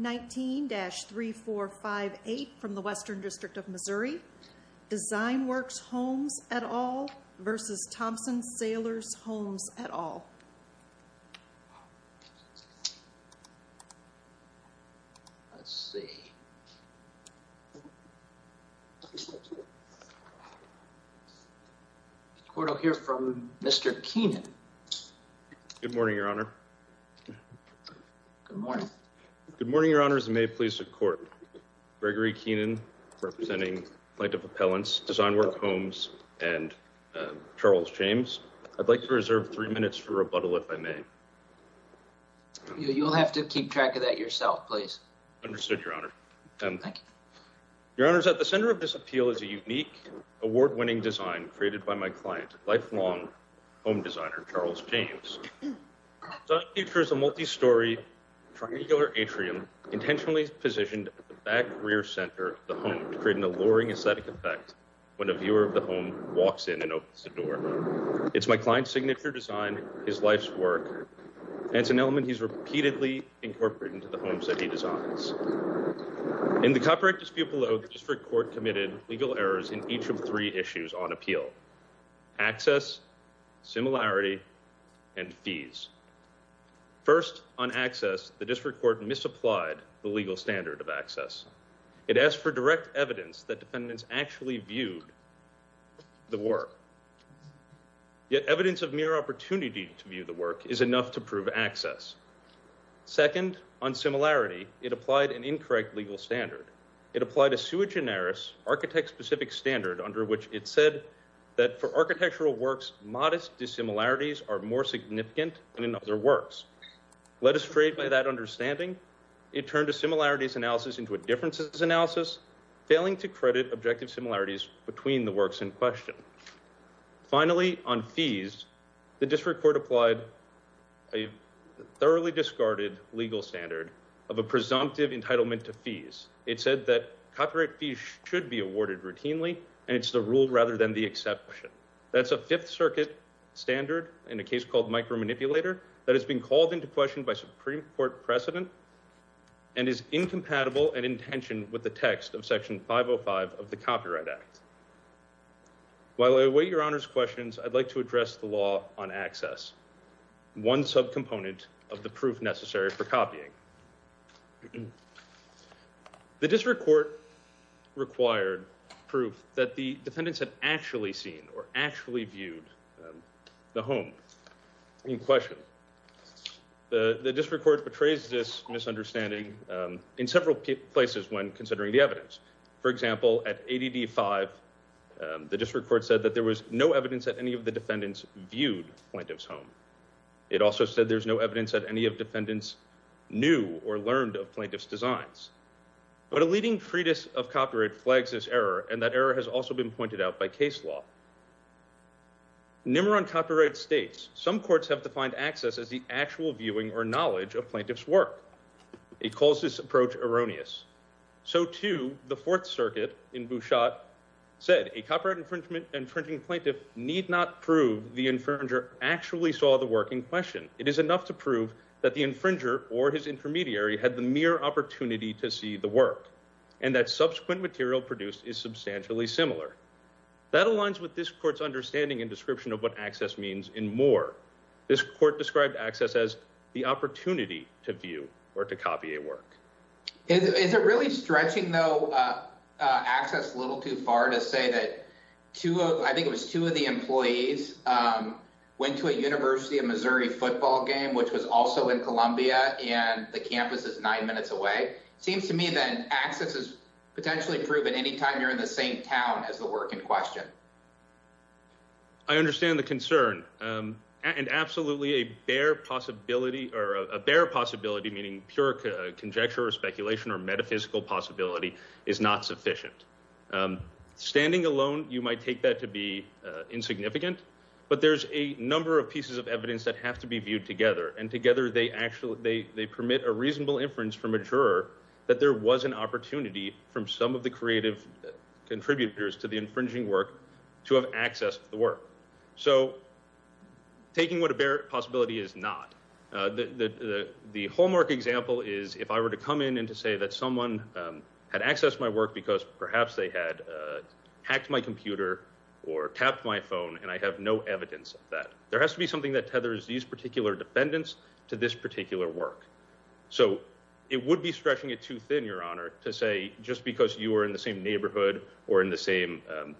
19-3458 from the Western District of Missouri, Designworks Homes, et al. v. Thomson Sailors Homes, et al. Good morning, Your Honors, and may it please the Court. Gregory Keenan, representing Plaintiff Appellants, Designworks Homes, and Charles James. I'd like to reserve three minutes for rebuttal, if I may. You'll have to keep track of that yourself, please. Understood, Your Honor. Thank you. Your Honors, at the center of this appeal is a unique, award-winning design created by my client, lifelong home designer, Charles James. The design features a multi-story, triangular atrium intentionally positioned at the back rear center of the home, creating a alluring aesthetic effect when a viewer of the home walks in and opens the door. It's my client's signature design, his life's work, and it's an element he's repeatedly incorporated into the homes that he designs. In the copyright dispute below, the District Court committed legal errors in each of three issues on appeal. Access, similarity, and fees. First, on access, the District Court misapplied the legal standard of access. It asked for direct evidence that defendants actually viewed the work. Yet evidence of mere opportunity to view the work is enough to prove access. Second, on similarity, it applied an incorrect legal standard. It applied a sui generis, architect-specific standard under which it said that for architectural works, modest dissimilarities are more significant than in other works. Led astray by that understanding, it turned a similarities analysis into a differences analysis, failing to credit objective similarities between the works in question. Finally, on fees, the District Court applied a thoroughly discarded legal standard of a presumptive entitlement to fees. It said that copyright fees should be awarded routinely, and it's a rule rather than the exception. That's a Fifth Circuit standard in a case called micromanipulator that has been called into question by Supreme Court precedent and is incompatible and in tension with the text of Section 505 of the Copyright Act. While I await your Honor's questions, I'd like to address the law on access, one subcomponent of the proof necessary for copying. The District Court required proof that the defendants had actually seen or actually viewed the home in question. The District Court betrays this misunderstanding in several places when considering the evidence. For example, at ADD 5, the District Court said that there was no evidence that any of the defendants viewed Plaintiff's home. It also said there's no evidence that any of defendants knew or learned of Plaintiff's designs. But a leading treatise of copyright flags this error, and that error has also been pointed out by case law. NIMR on copyright states, some courts have defined access as the actual viewing or knowledge of Plaintiff's work. It calls this approach erroneous. So too, the Fourth Circuit in Bouchot said a copyright infringement, infringing Plaintiff need not prove the infringer actually saw the work in question. It is enough to prove that the infringer or his intermediary had the mere opportunity to see the work and that subsequent material produced is substantially similar. That aligns with this court's understanding and description of what access means in Moore. This court described access as the opportunity to view or to copy a work. Is it really stretching though, uh, uh, access a little too far to say that two of, I think it was two of the employees, um, went to a university of Missouri football game, which was also in Columbia and the campus is nine minutes away. It seems to me that access is potentially proven anytime you're in the same town as the work in question. I understand the concern. Um, and absolutely a bare possibility or a bare possibility, meaning pure conjecture or speculation or metaphysical possibility is not sufficient. Um, standing alone, you might take that to be, uh, insignificant, but there's a number of pieces of evidence that have to be viewed together. And together they actually, they, they permit a reasonable inference from a juror that there was an opportunity from some of the creative contributors to the infringing work to have access to the work. So taking what a bare possibility is not, uh, the, the, the, the hallmark example is if I were to come in and to say that someone, um, had access to my work because perhaps they had, uh, hacked my computer or tapped my phone and I have no evidence of that. There has to be something that tethers these particular defendants to this particular work. So it would be stretching it too thin, your honor to say, just because you were in the same neighborhood or in the same, um,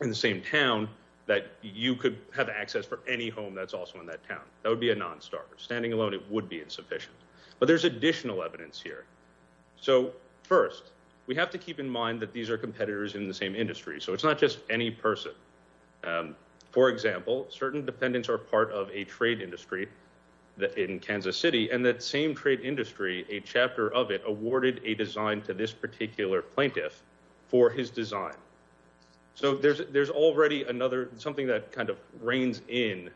in the same town that you could have access for any home that's also in that town. That would be a non-star standing alone. It would be insufficient, but there's additional evidence here. So first we have to keep in mind that these are competitors in the same industry. So it's not just any person. Um, for example, certain defendants are part of a trade industry that in Kansas city and that same trade industry, a chapter of it awarded a design to this particular plaintiff for his design. So there's, there's already another, something that kind of reigns in,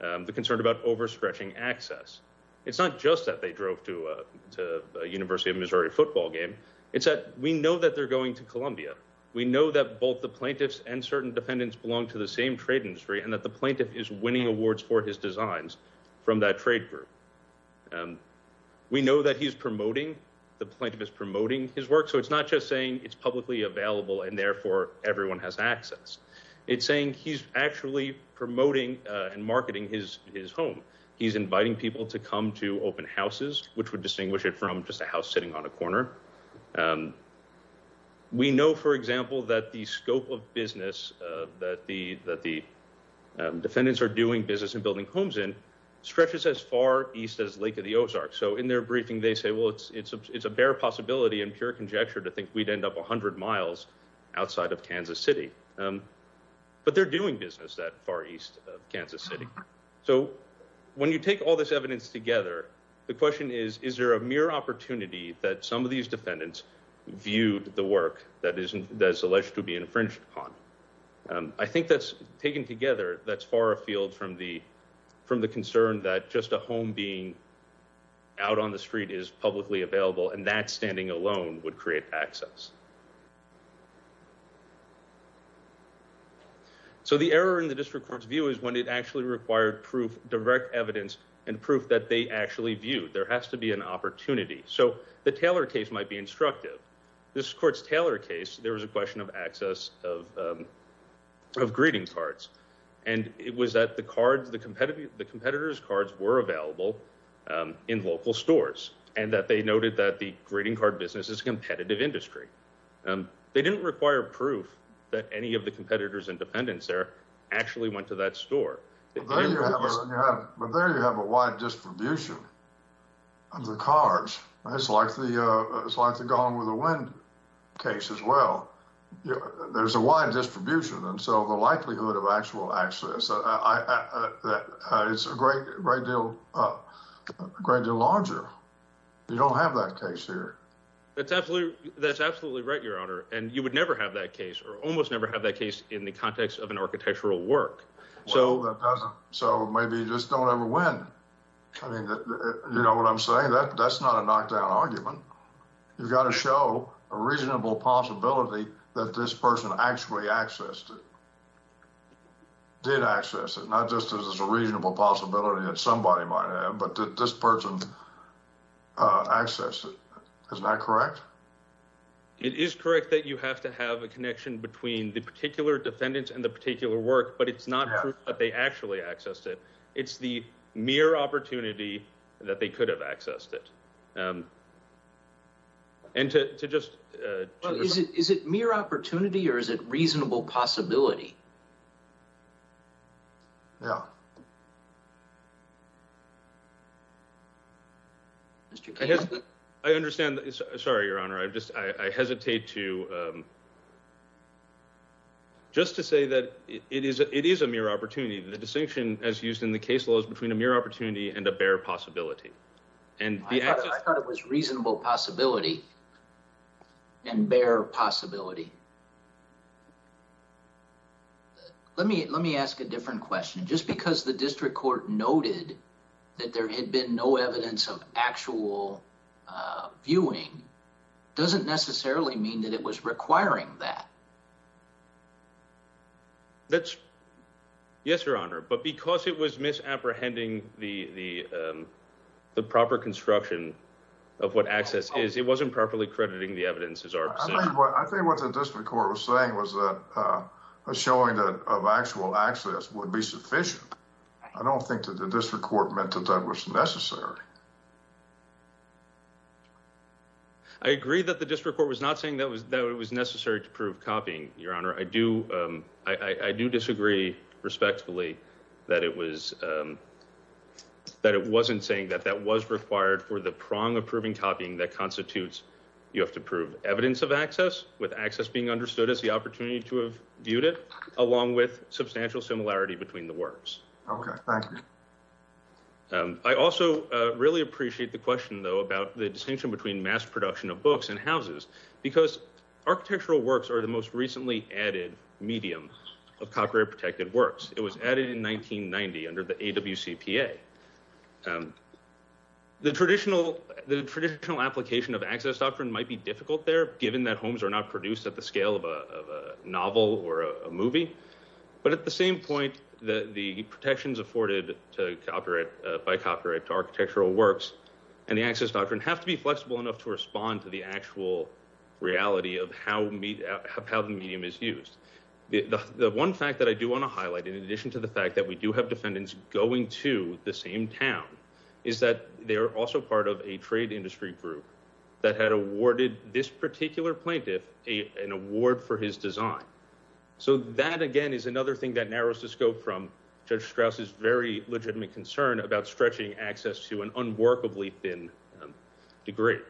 um, the concern about overstretching access. It's not just that they drove to a, to a university of Missouri football game. It's that we know that they're going to Columbia. We know that both the plaintiffs and certain defendants belong to the same trade industry and that the plaintiff is winning awards for his designs from that trade group. Um, we know that he's promoting the plaintiff is promoting his work. So it's not just saying it's publicly available and therefore everyone has access. It's saying he's actually promoting and marketing his, his home. He's inviting people to come to open houses, which would distinguish it from just a house sitting on a corner. Um, we know, for example, that the scope of business, uh, that the, that the defendants are doing business and building homes in stretches as far East as Lake of the Ozarks. So in their briefing, they say, well, it's, it's a, it's a bare possibility in pure conjecture to think we'd end up a hundred miles outside of Kansas city. Um, but they're doing business that far East of Kansas city. So when you take all this evidence together, the question is, is there a mere opportunity that some of these defendants viewed the work that isn't, that's alleged to be infringed upon? Um, I think that's taken together. That's far afield from the, from the concern that just a home being out on the street is publicly available and that standing alone would create access. So the error in the district court's view is when it actually required proof, direct evidence and proof that they actually viewed, there has to be an opportunity. So the Taylor case might be instructive. This court's Taylor case, there was a question of access of, um, of greeting cards. And it was that the cards, the competitive, the competitors' cards were available, um, in local stores and that they noted that the greeting card business is competitive industry. Um, they didn't require proof that any of the competitors and defendants there actually went to that store. But there you have a wide distribution of the cards. It's like the, uh, it's like the long with the wind case as well. There's a wide distribution. And so the likelihood of actual access, uh, it's a great, great deal, a great deal larger. You don't have that case here. That's absolutely, that's absolutely right, Your Honor. And you would never have that case or almost never have that case in the context of an architectural work. Well, that doesn't. So maybe you just don't ever win. I mean, you know what I'm saying? That's not a knockdown argument. You've got to show a reasonable possibility that this person actually accessed it, did access it, not just as a reasonable possibility that somebody might have, but that this person, uh, accessed it. Isn't that correct? It is correct that you have to have a connection between the particular defendants and the particular work, but it's not true that they actually accessed it. It's the mere opportunity that they could have accessed it. Um, and to, to just, uh, is it, is it mere opportunity or is it reasonable possibility? Yeah. Mr. I understand. Sorry, Your Honor. I just, I hesitate to, um, just to say that it is, it is a mere opportunity. The distinction as used in the case law is between a mere opportunity and a bare possibility. And I thought it was reasonable possibility and bare possibility. Let me, let me ask a different question. Just because the district court noted that there had been no evidence of actual, uh, viewing doesn't necessarily mean that it was requiring that. That's yes, Your Honor. But because it was misapprehending the, the, um, the proper construction of what access is, it wasn't properly crediting the evidence as our I think what the district court was saying was that, uh, was showing that of actual access would be sufficient. I don't think that the district court meant that that was necessary. I agree that the district court was not saying that it was necessary to prove copying, Your Honor. I do, um, I do disagree respectfully that it was, um, that it wasn't saying that that was required for the prong of proving copying that constitutes you have to prove evidence of access with access being understood as the opportunity to have viewed it along with substantial similarity between the works. Okay. Thank you. Um, I also, uh, really appreciate the question though, about the distinction between mass production of recently added medium of copyright protected works. It was added in 1990 under the AWCPA. Um, the traditional, the traditional application of access doctrine might be difficult there given that homes are not produced at the scale of a novel or a movie, but at the same point, the, the protections afforded to copyright, uh, by copyright to architectural works and the access doctrine have to be flexible enough to respond to the actual reality of how the medium is used. The one fact that I do want to highlight in addition to the fact that we do have defendants going to the same town is that they're also part of a trade industry group that had awarded this particular plaintiff a, an award for his design. So that again, is another thing that narrows the scope from Judge Strauss is very legitimate concern about stretching access to an workably thin degree.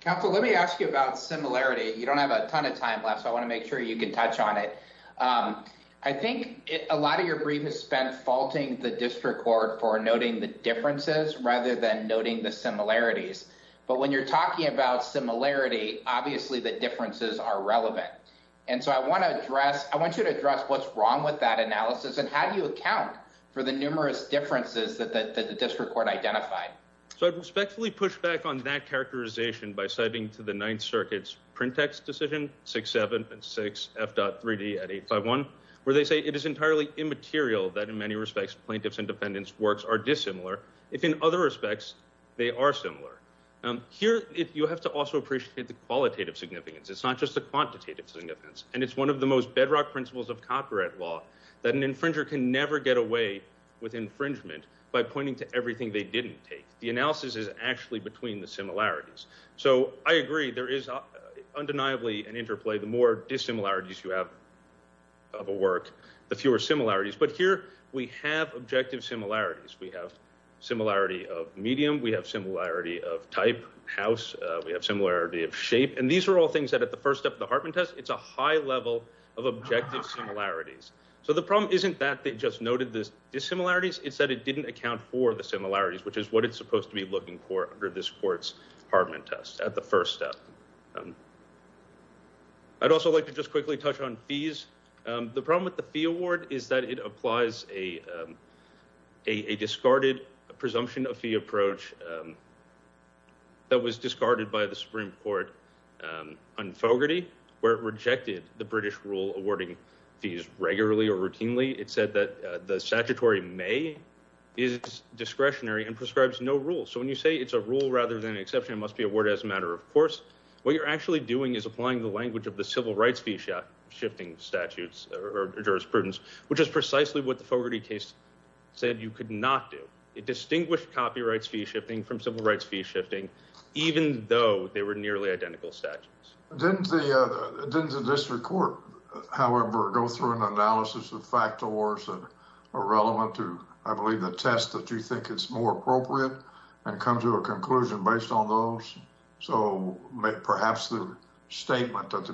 Counsel, let me ask you about similarity. You don't have a ton of time left, so I want to make sure you can touch on it. Um, I think a lot of your brief has spent faulting the district court for noting the differences rather than noting the similarities, but when you're talking about similarity, obviously the differences are relevant. And so I want to address, I want you to address what's wrong with that analysis and how do you account for the numerous differences that the district court identified? So I'd respectfully push back on that characterization by citing to the Ninth Circuit's print text decision 6-7 and 6 F dot 3D at 851 where they say it is entirely immaterial that in many respects plaintiffs and defendants works are dissimilar, if in other respects they are similar. Here, you have to also appreciate the qualitative significance. It's not just the quantitative significance and it's one of the most bedrock principles of copyright law that an infringer can never get away with infringement by pointing to everything they didn't take. The analysis is actually between the similarities. So I agree, there is undeniably an interplay. The more dissimilarities you have of a work, the fewer similarities. But here we have objective similarities. We have similarity of medium, we have similarity of type, house, we have similarity of shape, and these are all things that at the first of the Hartman test, it's a high level of objective similarities. So the problem isn't that they just noted the dissimilarities, it's that it didn't account for the similarities, which is what it's supposed to be looking for under this court's Hartman test at the first step. I'd also like to just quickly touch on fees. The problem with the fee award is that it applies a discarded presumption of fee approach that was discarded by the Supreme Court on Fogarty, where it rejected the British rule awarding fees regularly or routinely. It said that the statutory may is discretionary and prescribes no rule. So when you say it's a rule rather than an exception, it must be awarded as a matter of course, what you're actually doing is applying the language of the civil rights fee shifting statutes or jurisprudence, which is precisely what the Fogarty case said you could not do. It distinguished copyrights fee shifting from civil rights fee shifting, even though they were nearly identical statutes. Didn't the district court, however, go through an analysis of factors that are relevant to, I believe, the test that you think it's more appropriate and come to a conclusion based on those? So perhaps the statement at the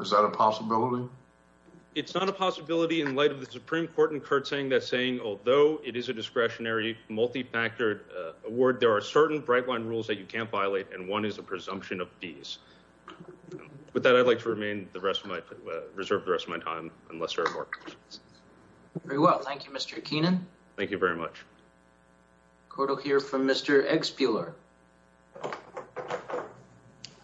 is that a possibility? It's not a possibility in light of the Supreme Court incurred saying that saying, although it is a discretionary multi-factored award, there are certain bright line rules that you can't violate. And one is the presumption of fees. With that, I'd like to remain the rest of my, reserve the rest of my time, unless there are more questions. Very well. Thank you, Mr. Keenan. Thank you very much. Court will hear from Mr.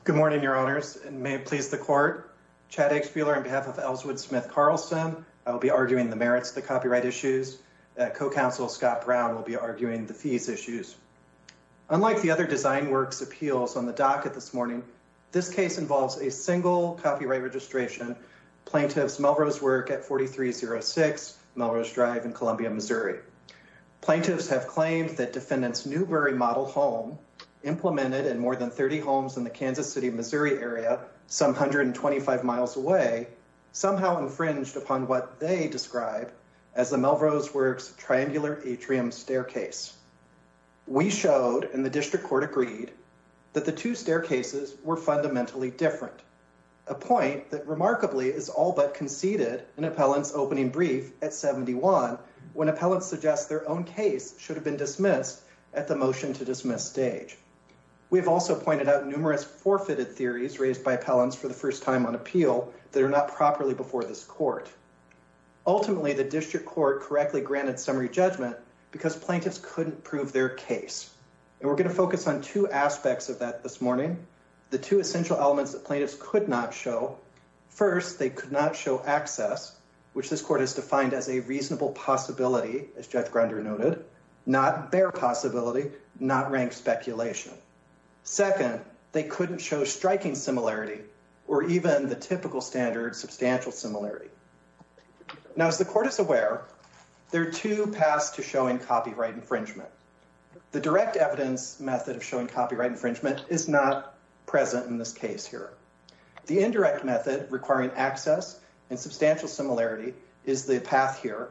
Good morning, Your Honors, and may it please the court. Chad Eggspuler on behalf of Ellswood Smith Carlson, I will be arguing the merits of the copyright issues. Co-counsel Scott Brown will be arguing the fees issues. Unlike the other Design Works appeals on the docket this morning, this case involves a single copyright registration. Plaintiffs Melrose work at 4306 Melrose Drive in implemented in more than 30 homes in the Kansas City, Missouri area, some 125 miles away, somehow infringed upon what they describe as the Melrose works triangular atrium staircase. We showed in the district court agreed that the two staircases were fundamentally different. A point that remarkably is all but conceded in appellants opening brief at 71 when appellants suggest their own case should have been dismissed at the motion to dismiss stage. We've also pointed out numerous forfeited theories raised by appellants for the first time on appeal that are not properly before this court. Ultimately, the district court correctly granted summary judgment because plaintiffs couldn't prove their case. And we're going to focus on two aspects of that this morning. The two essential elements that plaintiffs could not show. First, they could not show access, which this court has defined as a reasonable possibility, as Jeff Grunder noted, not bear possibility, not rank speculation. Second, they couldn't show striking similarity or even the typical standard substantial similarity. Now, as the court is aware, there are two paths to showing copyright infringement. The direct evidence method of showing copyright infringement is not present in this case here. The indirect method requiring access and substantial similarity is the path here.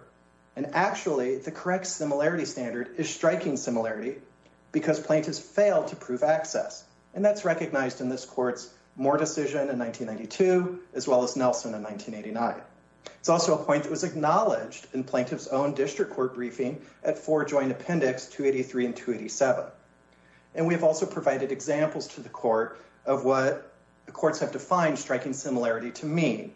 And actually, the correct similarity standard is striking similarity because plaintiffs failed to prove access. And that's recognized in this court's Moore decision in 1992, as well as Nelson in 1989. It's also a point that was acknowledged in plaintiff's own district court briefing at four joint appendix 283 and 287. And we've also provided examples to the court of what the courts have defined striking similarity to mean.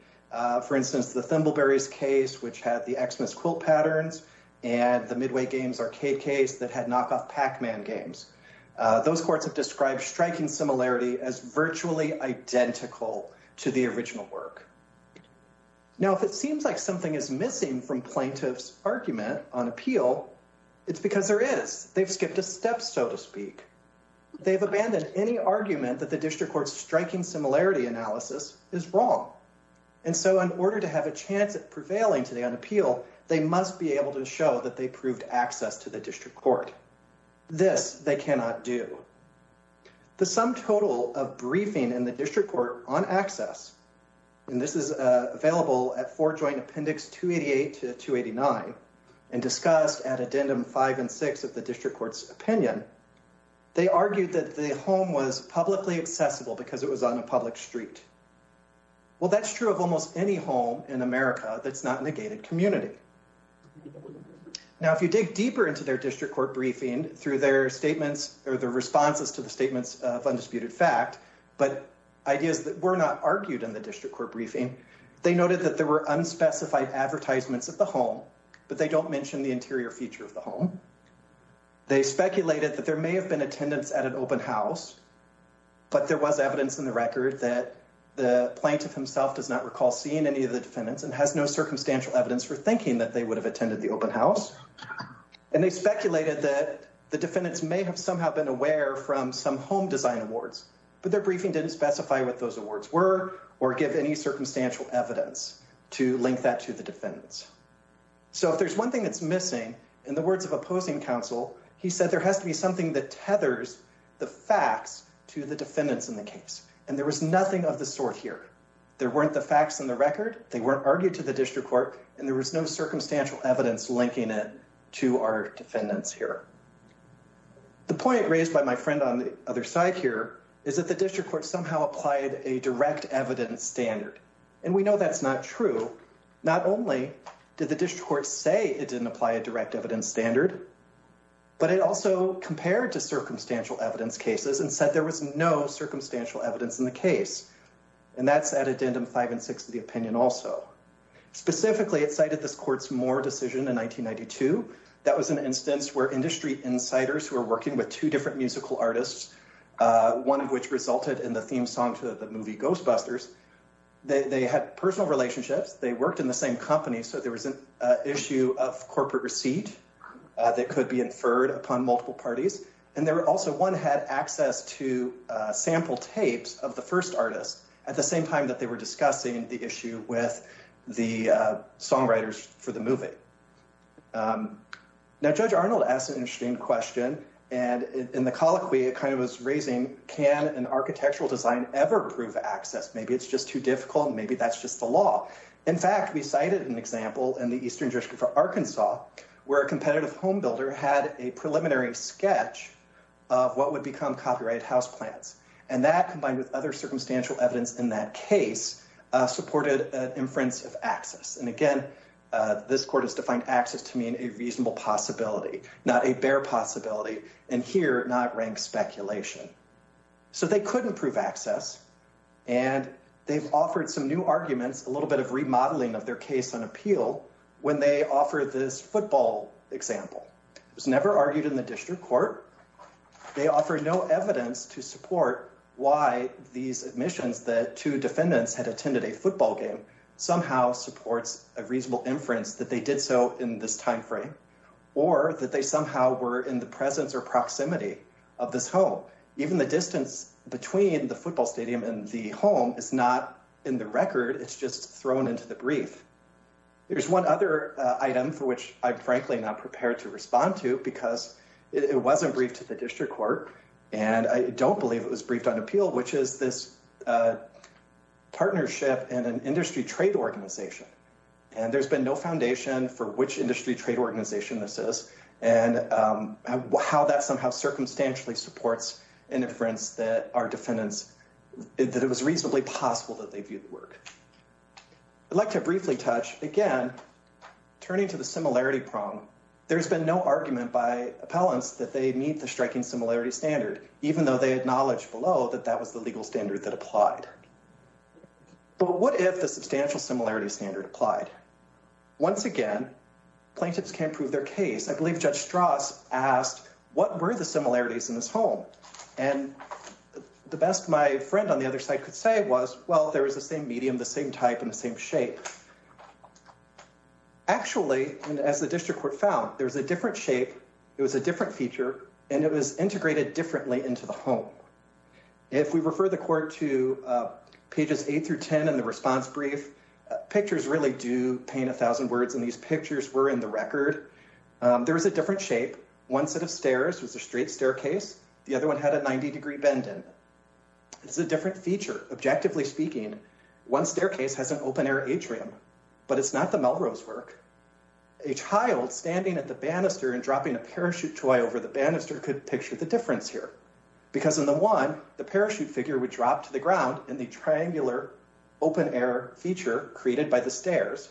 For instance, the Thimbleberries case, which had the Xmas quilt patterns and the Midway Games arcade case that had knockoff Pac-Man games. Those courts have described striking similarity as virtually identical to the original work. Now, if it seems like something is missing from plaintiff's argument on appeal, it's because there is. They've skipped a step, so to speak. They've abandoned any argument that the district court's striking similarity analysis is wrong. And so in order to have a chance at prevailing today on appeal, they must be able to show that they proved access to the district court. This they cannot do. The sum total of briefing in the district court on access, and this is available at four joint appendix 288 to 289 and discussed at addendum five and six of the district court's opinion. They argued that the home was publicly accessible because it was on a public street. Well, that's true of almost any home in America that's not negated community. Now, if you dig deeper into their district court briefing through their statements or their responses to the statements of undisputed fact, but ideas that were not argued in the advertisements of the home, but they don't mention the interior feature of the home. They speculated that there may have been attendance at an open house, but there was evidence in the record that the plaintiff himself does not recall seeing any of the defendants and has no circumstantial evidence for thinking that they would have attended the open house. And they speculated that the defendants may have somehow been aware from some home design awards, but their briefing didn't specify what those awards were or give any circumstantial evidence to link that to the defendants. So if there's one thing that's missing in the words of opposing counsel, he said, there has to be something that tethers the facts to the defendants in the case. And there was nothing of the sort here. There weren't the facts in the record. They weren't argued to the district court and there was no circumstantial evidence linking it to our defendants here. The point raised by my friend on the other side here is that the district court somehow applied a direct evidence standard. And we know that's not true. Not only did the district court say it didn't apply a direct evidence standard, but it also compared to circumstantial evidence cases and said there was no circumstantial evidence in the case. And that's at addendum five and six of the opinion also. Specifically, it cited this court's Moore decision in 1992. That was an instance where industry insiders who are working with two different musical artists, one of which resulted in the theme song to the movie Ghostbusters, they had personal relationships. They worked in the same company. So there was an issue of corporate receipt that could be inferred upon multiple parties. And there were also one had access to sample tapes of the first artist at the same time that they were discussing the issue with the songwriters for the movie. Now, Judge Arnold asked an interesting question. And in the colloquy, it kind of was raising, can an architectural design ever prove access? Maybe it's just too difficult. Maybe that's just the law. In fact, we cited an example in the eastern district for Arkansas where a competitive home builder had a preliminary sketch of what would become copyright house plans. And that, combined with other circumstantial evidence in that case, supported an inference of access. And again, this court has defined access to mean a reasonable possibility, not a bare possibility, and here not rank speculation. So they couldn't prove access. And they've offered some new arguments, a little bit of remodeling of their case on appeal when they offer this football example. It was never argued in the district court. They offer no evidence to support why these admissions that two defendants had attended a somehow supports a reasonable inference that they did so in this time frame or that they somehow were in the presence or proximity of this home. Even the distance between the football stadium and the home is not in the record. It's just thrown into the brief. There's one other item for which I'm frankly not prepared to respond to because it wasn't briefed to the district court and I don't believe it was briefed on appeal, which is this partnership and an industry trade organization. And there's been no foundation for which industry trade organization this is and how that somehow circumstantially supports an inference that our defendants, that it was reasonably possible that they viewed the work. I'd like to briefly touch again, turning to the similarity problem. There's been no argument by appellants that they meet the striking similarities standard, even though they had knowledge below that that was the legal standard that applied. But what if the substantial similarity standard applied? Once again, plaintiffs can't prove their case. I believe Judge Strauss asked, what were the similarities in this home? And the best my friend on the other side could say was, well, there was the same medium, the same type and the same shape. Actually, and as the district court found, there was a different shape. It was a different feature and it was integrated differently into the home. If we refer the court to pages 8 through 10 in the response brief, pictures really do paint a thousand words and these pictures were in the record. There was a different shape. One set of stairs was a straight staircase. The other one had a 90 degree bend in. It's a different feature. Objectively speaking, one staircase has an open air atrium, but it's not the Melrose work. A child standing at the banister and dropping a parachute over the banister could picture the difference here. Because in the one, the parachute figure would drop to the ground in the triangular open air feature created by the stairs.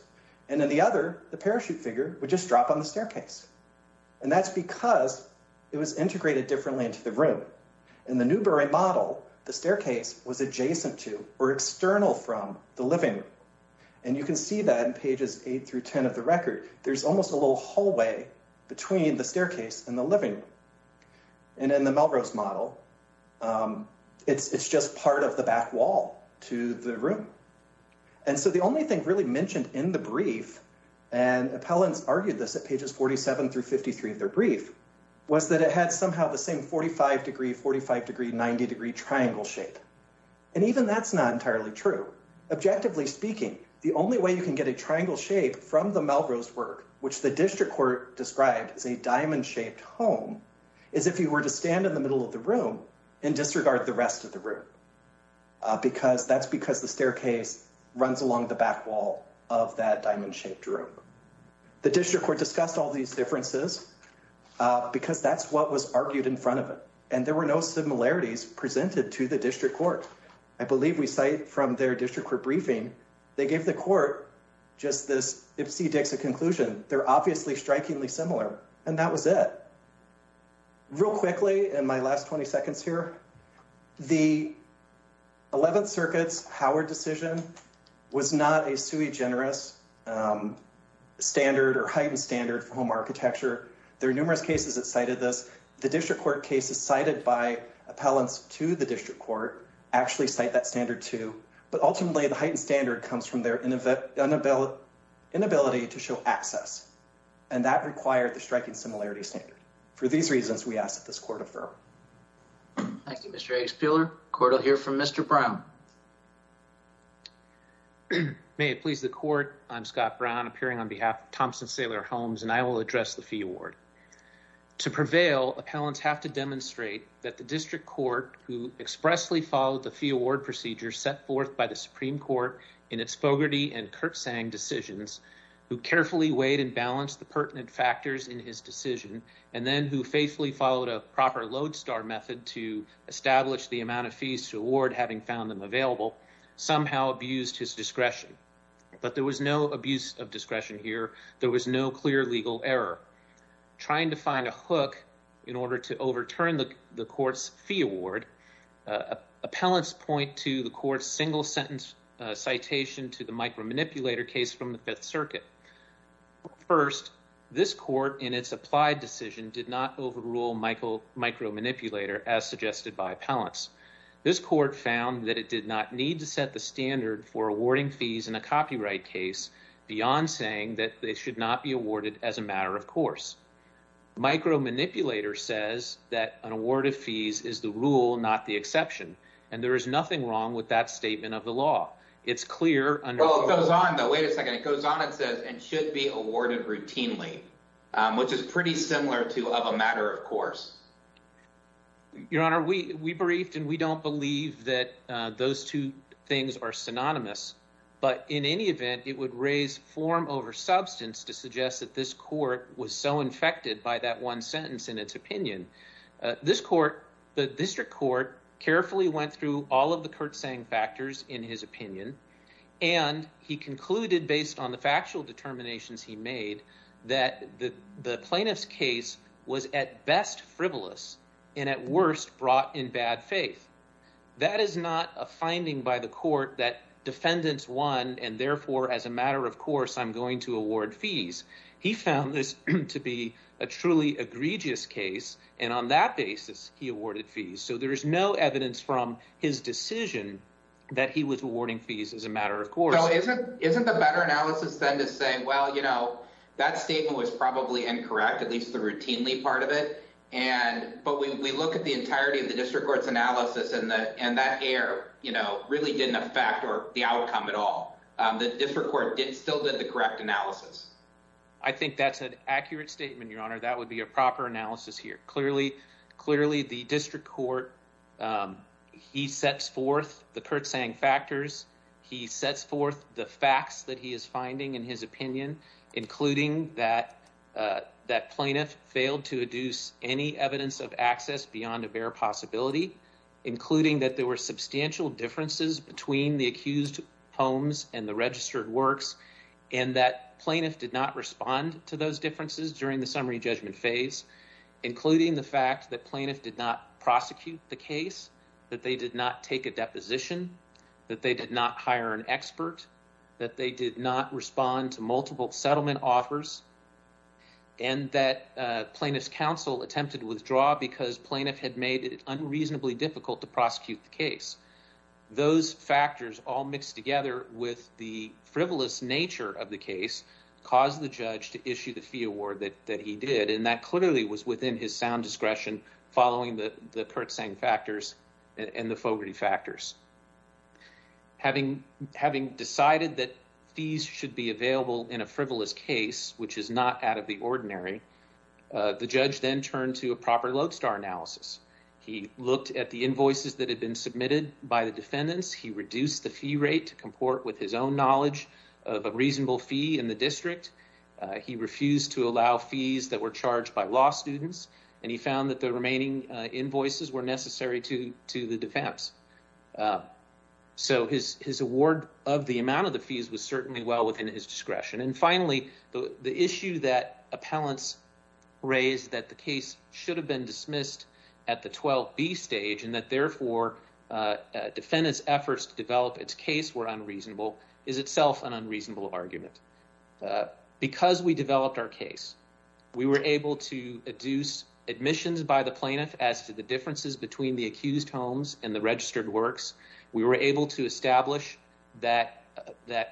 And in the other, the parachute figure would just drop on the staircase. And that's because it was integrated differently into the room. In the Newbury model, the staircase was adjacent to or external from the living room. And you can see that in pages 8 through 10 of the record, there's almost a little in the living room. And in the Melrose model, it's just part of the back wall to the room. And so the only thing really mentioned in the brief, and appellants argued this at pages 47 through 53 of their brief, was that it had somehow the same 45 degree, 45 degree, 90 degree triangle shape. And even that's not entirely true. Objectively speaking, the only way you can get a home is if you were to stand in the middle of the room and disregard the rest of the room. Because that's because the staircase runs along the back wall of that diamond shaped room. The district court discussed all these differences because that's what was argued in front of it. And there were no similarities presented to the district court. I believe we cite from their district court briefing, they gave the court just this ipsy dixie conclusion. They're obviously strikingly similar. And that was it. Real quickly, in my last 20 seconds here, the 11th Circuit's Howard decision was not a sui generis standard or heightened standard for home architecture. There are numerous cases that cited this. The district court cases cited by appellants to the district court actually cite that standard too. But ultimately, the heightened standard comes from their inability to show access. And that required the striking similarity standard. For these reasons, we ask that this court affirm. Thank you, Mr. Expeller. Court will hear from Mr. Brown. May it please the court. I'm Scott Brown, appearing on behalf of Thompson Sailor Homes, and I will address the fee award. To prevail, appellants have to demonstrate that the district court in its Fogarty and Kurtzsang decisions, who carefully weighed and balanced the pertinent factors in his decision, and then who faithfully followed a proper lodestar method to establish the amount of fees to award, having found them available, somehow abused his discretion. But there was no abuse of discretion here. There was no clear legal error. Trying to find a hook in order to overturn the court's fee award, appellants point to the court's single sentence citation to the micromanipulator case from the Fifth Circuit. First, this court, in its applied decision, did not overrule micromanipulator, as suggested by appellants. This court found that it did not need to set the standard for awarding fees in a copyright case beyond saying that they should not be awarded as a matter of exception. And there is nothing wrong with that statement of the law. It's clear under... Well, it goes on, though. Wait a second. It goes on and says, and should be awarded routinely, which is pretty similar to of a matter of course. Your Honor, we briefed and we don't believe that those two things are synonymous. But in any event, it would raise form over substance to suggest that this court was so infected by that one carefully went through all of the curtsaying factors in his opinion. And he concluded, based on the factual determinations he made, that the plaintiff's case was at best frivolous and at worst brought in bad faith. That is not a finding by the court that defendants won and therefore, as a matter of course, I'm going to award fees. He found this to be a truly egregious case. And on that basis, he awarded fees. So there is no evidence from his decision that he was awarding fees as a matter of course. Isn't the better analysis than to say, well, that statement was probably incorrect, at least the routinely part of it. But we look at the entirety of the district court's analysis and that error really didn't affect the outcome at all. The district court still did the correct analysis. I think that's an accurate statement, Your Honor. That would be a proper analysis here. Clearly, the district court, he sets forth the curtsaying factors. He sets forth the facts that he is finding in his opinion, including that that plaintiff failed to deduce any evidence of access beyond a bare possibility, including that there were and that plaintiff did not respond to those differences during the summary judgment phase, including the fact that plaintiff did not prosecute the case, that they did not take a deposition, that they did not hire an expert, that they did not respond to multiple settlement offers, and that plaintiff's counsel attempted to withdraw because plaintiff had made it unreasonably difficult to prosecute the case. Those factors all mixed together with the frivolous nature of the case caused the judge to issue the fee award that he did, and that clearly was within his sound discretion following the curtsaying factors and the Fogarty factors. Having decided that fees should be available in a frivolous case, which is not out of the ordinary, the judge then turned to a proper lodestar analysis. He looked at the invoices that had been submitted by the defendants. He reduced the fee rate to comport with his own knowledge of a reasonable fee in the district. He refused to allow fees that were charged by law students, and he found that the remaining invoices were necessary to the defense. So his award of the amount of the fees was certainly well within his discretion. And finally, the issue that appellants raised that the case should have been dismissed at the 12B stage and that therefore defendants' efforts to develop its case were unreasonable is itself an unreasonable argument. Because we developed our case, we were able to adduce admissions by the plaintiff as to the differences between the accused homes and the registered works. We were able to establish that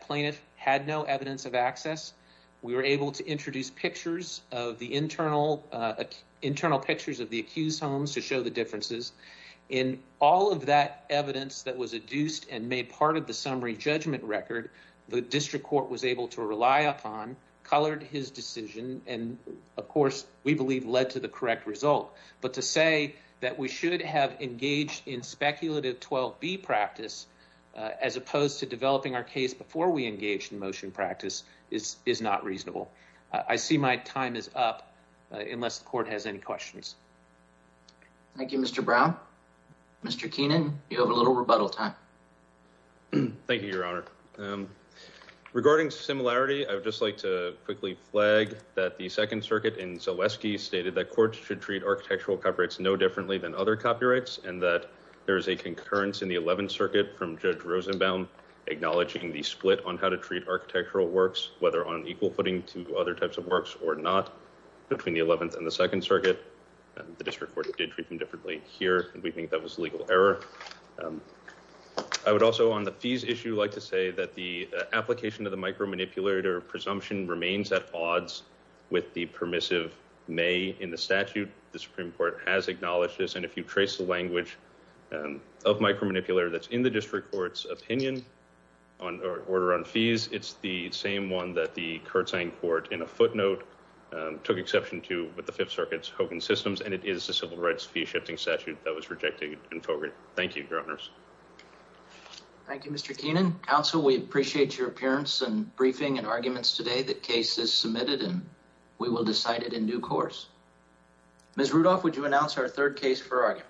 plaintiff had no evidence of access. We were able to introduce pictures of the internal internal pictures of the accused homes to show the differences. In all of that evidence that was adduced and made part of the summary judgment record, the district court was able to rely upon, colored his decision, and of course, we believe, led to the correct result. But to say that we should have engaged in speculative 12B practice as opposed to developing our case before we engaged in motion practice is not reasonable. I see my time is up unless the court has any questions. Thank you, Mr. Brown. Mr. Keenan, you have a little rebuttal time. Thank you, your honor. Regarding similarity, I would just like to quickly flag that the Second Circuit in Zaleski stated that courts should treat architectural copyrights no differently than other copyrights and that there is a concurrence in the 11th Circuit from Judge Rosenbaum acknowledging the split on how to treat architectural works, whether on equal footing to other types of works or not, between the 11th and the Second Circuit. The district court did treat them differently here, and we think that was legal error. I would also, on the fees issue, like to say that the application of the micromanipulator presumption remains at odds with the permissive may in the statute. The Supreme Court has acknowledged this, and if you trace the language of micromanipulator that's in the district court's opinion on order on fees, it's the same one that the curtsying court in a footnote took exception to with the Fifth Circuit's Hogan systems, and it is a civil rights fee shifting statute that was rejected in Hogan. Thank you, your honors. Thank you, Mr. Keenan. Counsel, we appreciate your appearance and briefing and arguments today. The case is submitted, and we will decide it in due course. Ms. Rudolph, would you announce our third case for argument?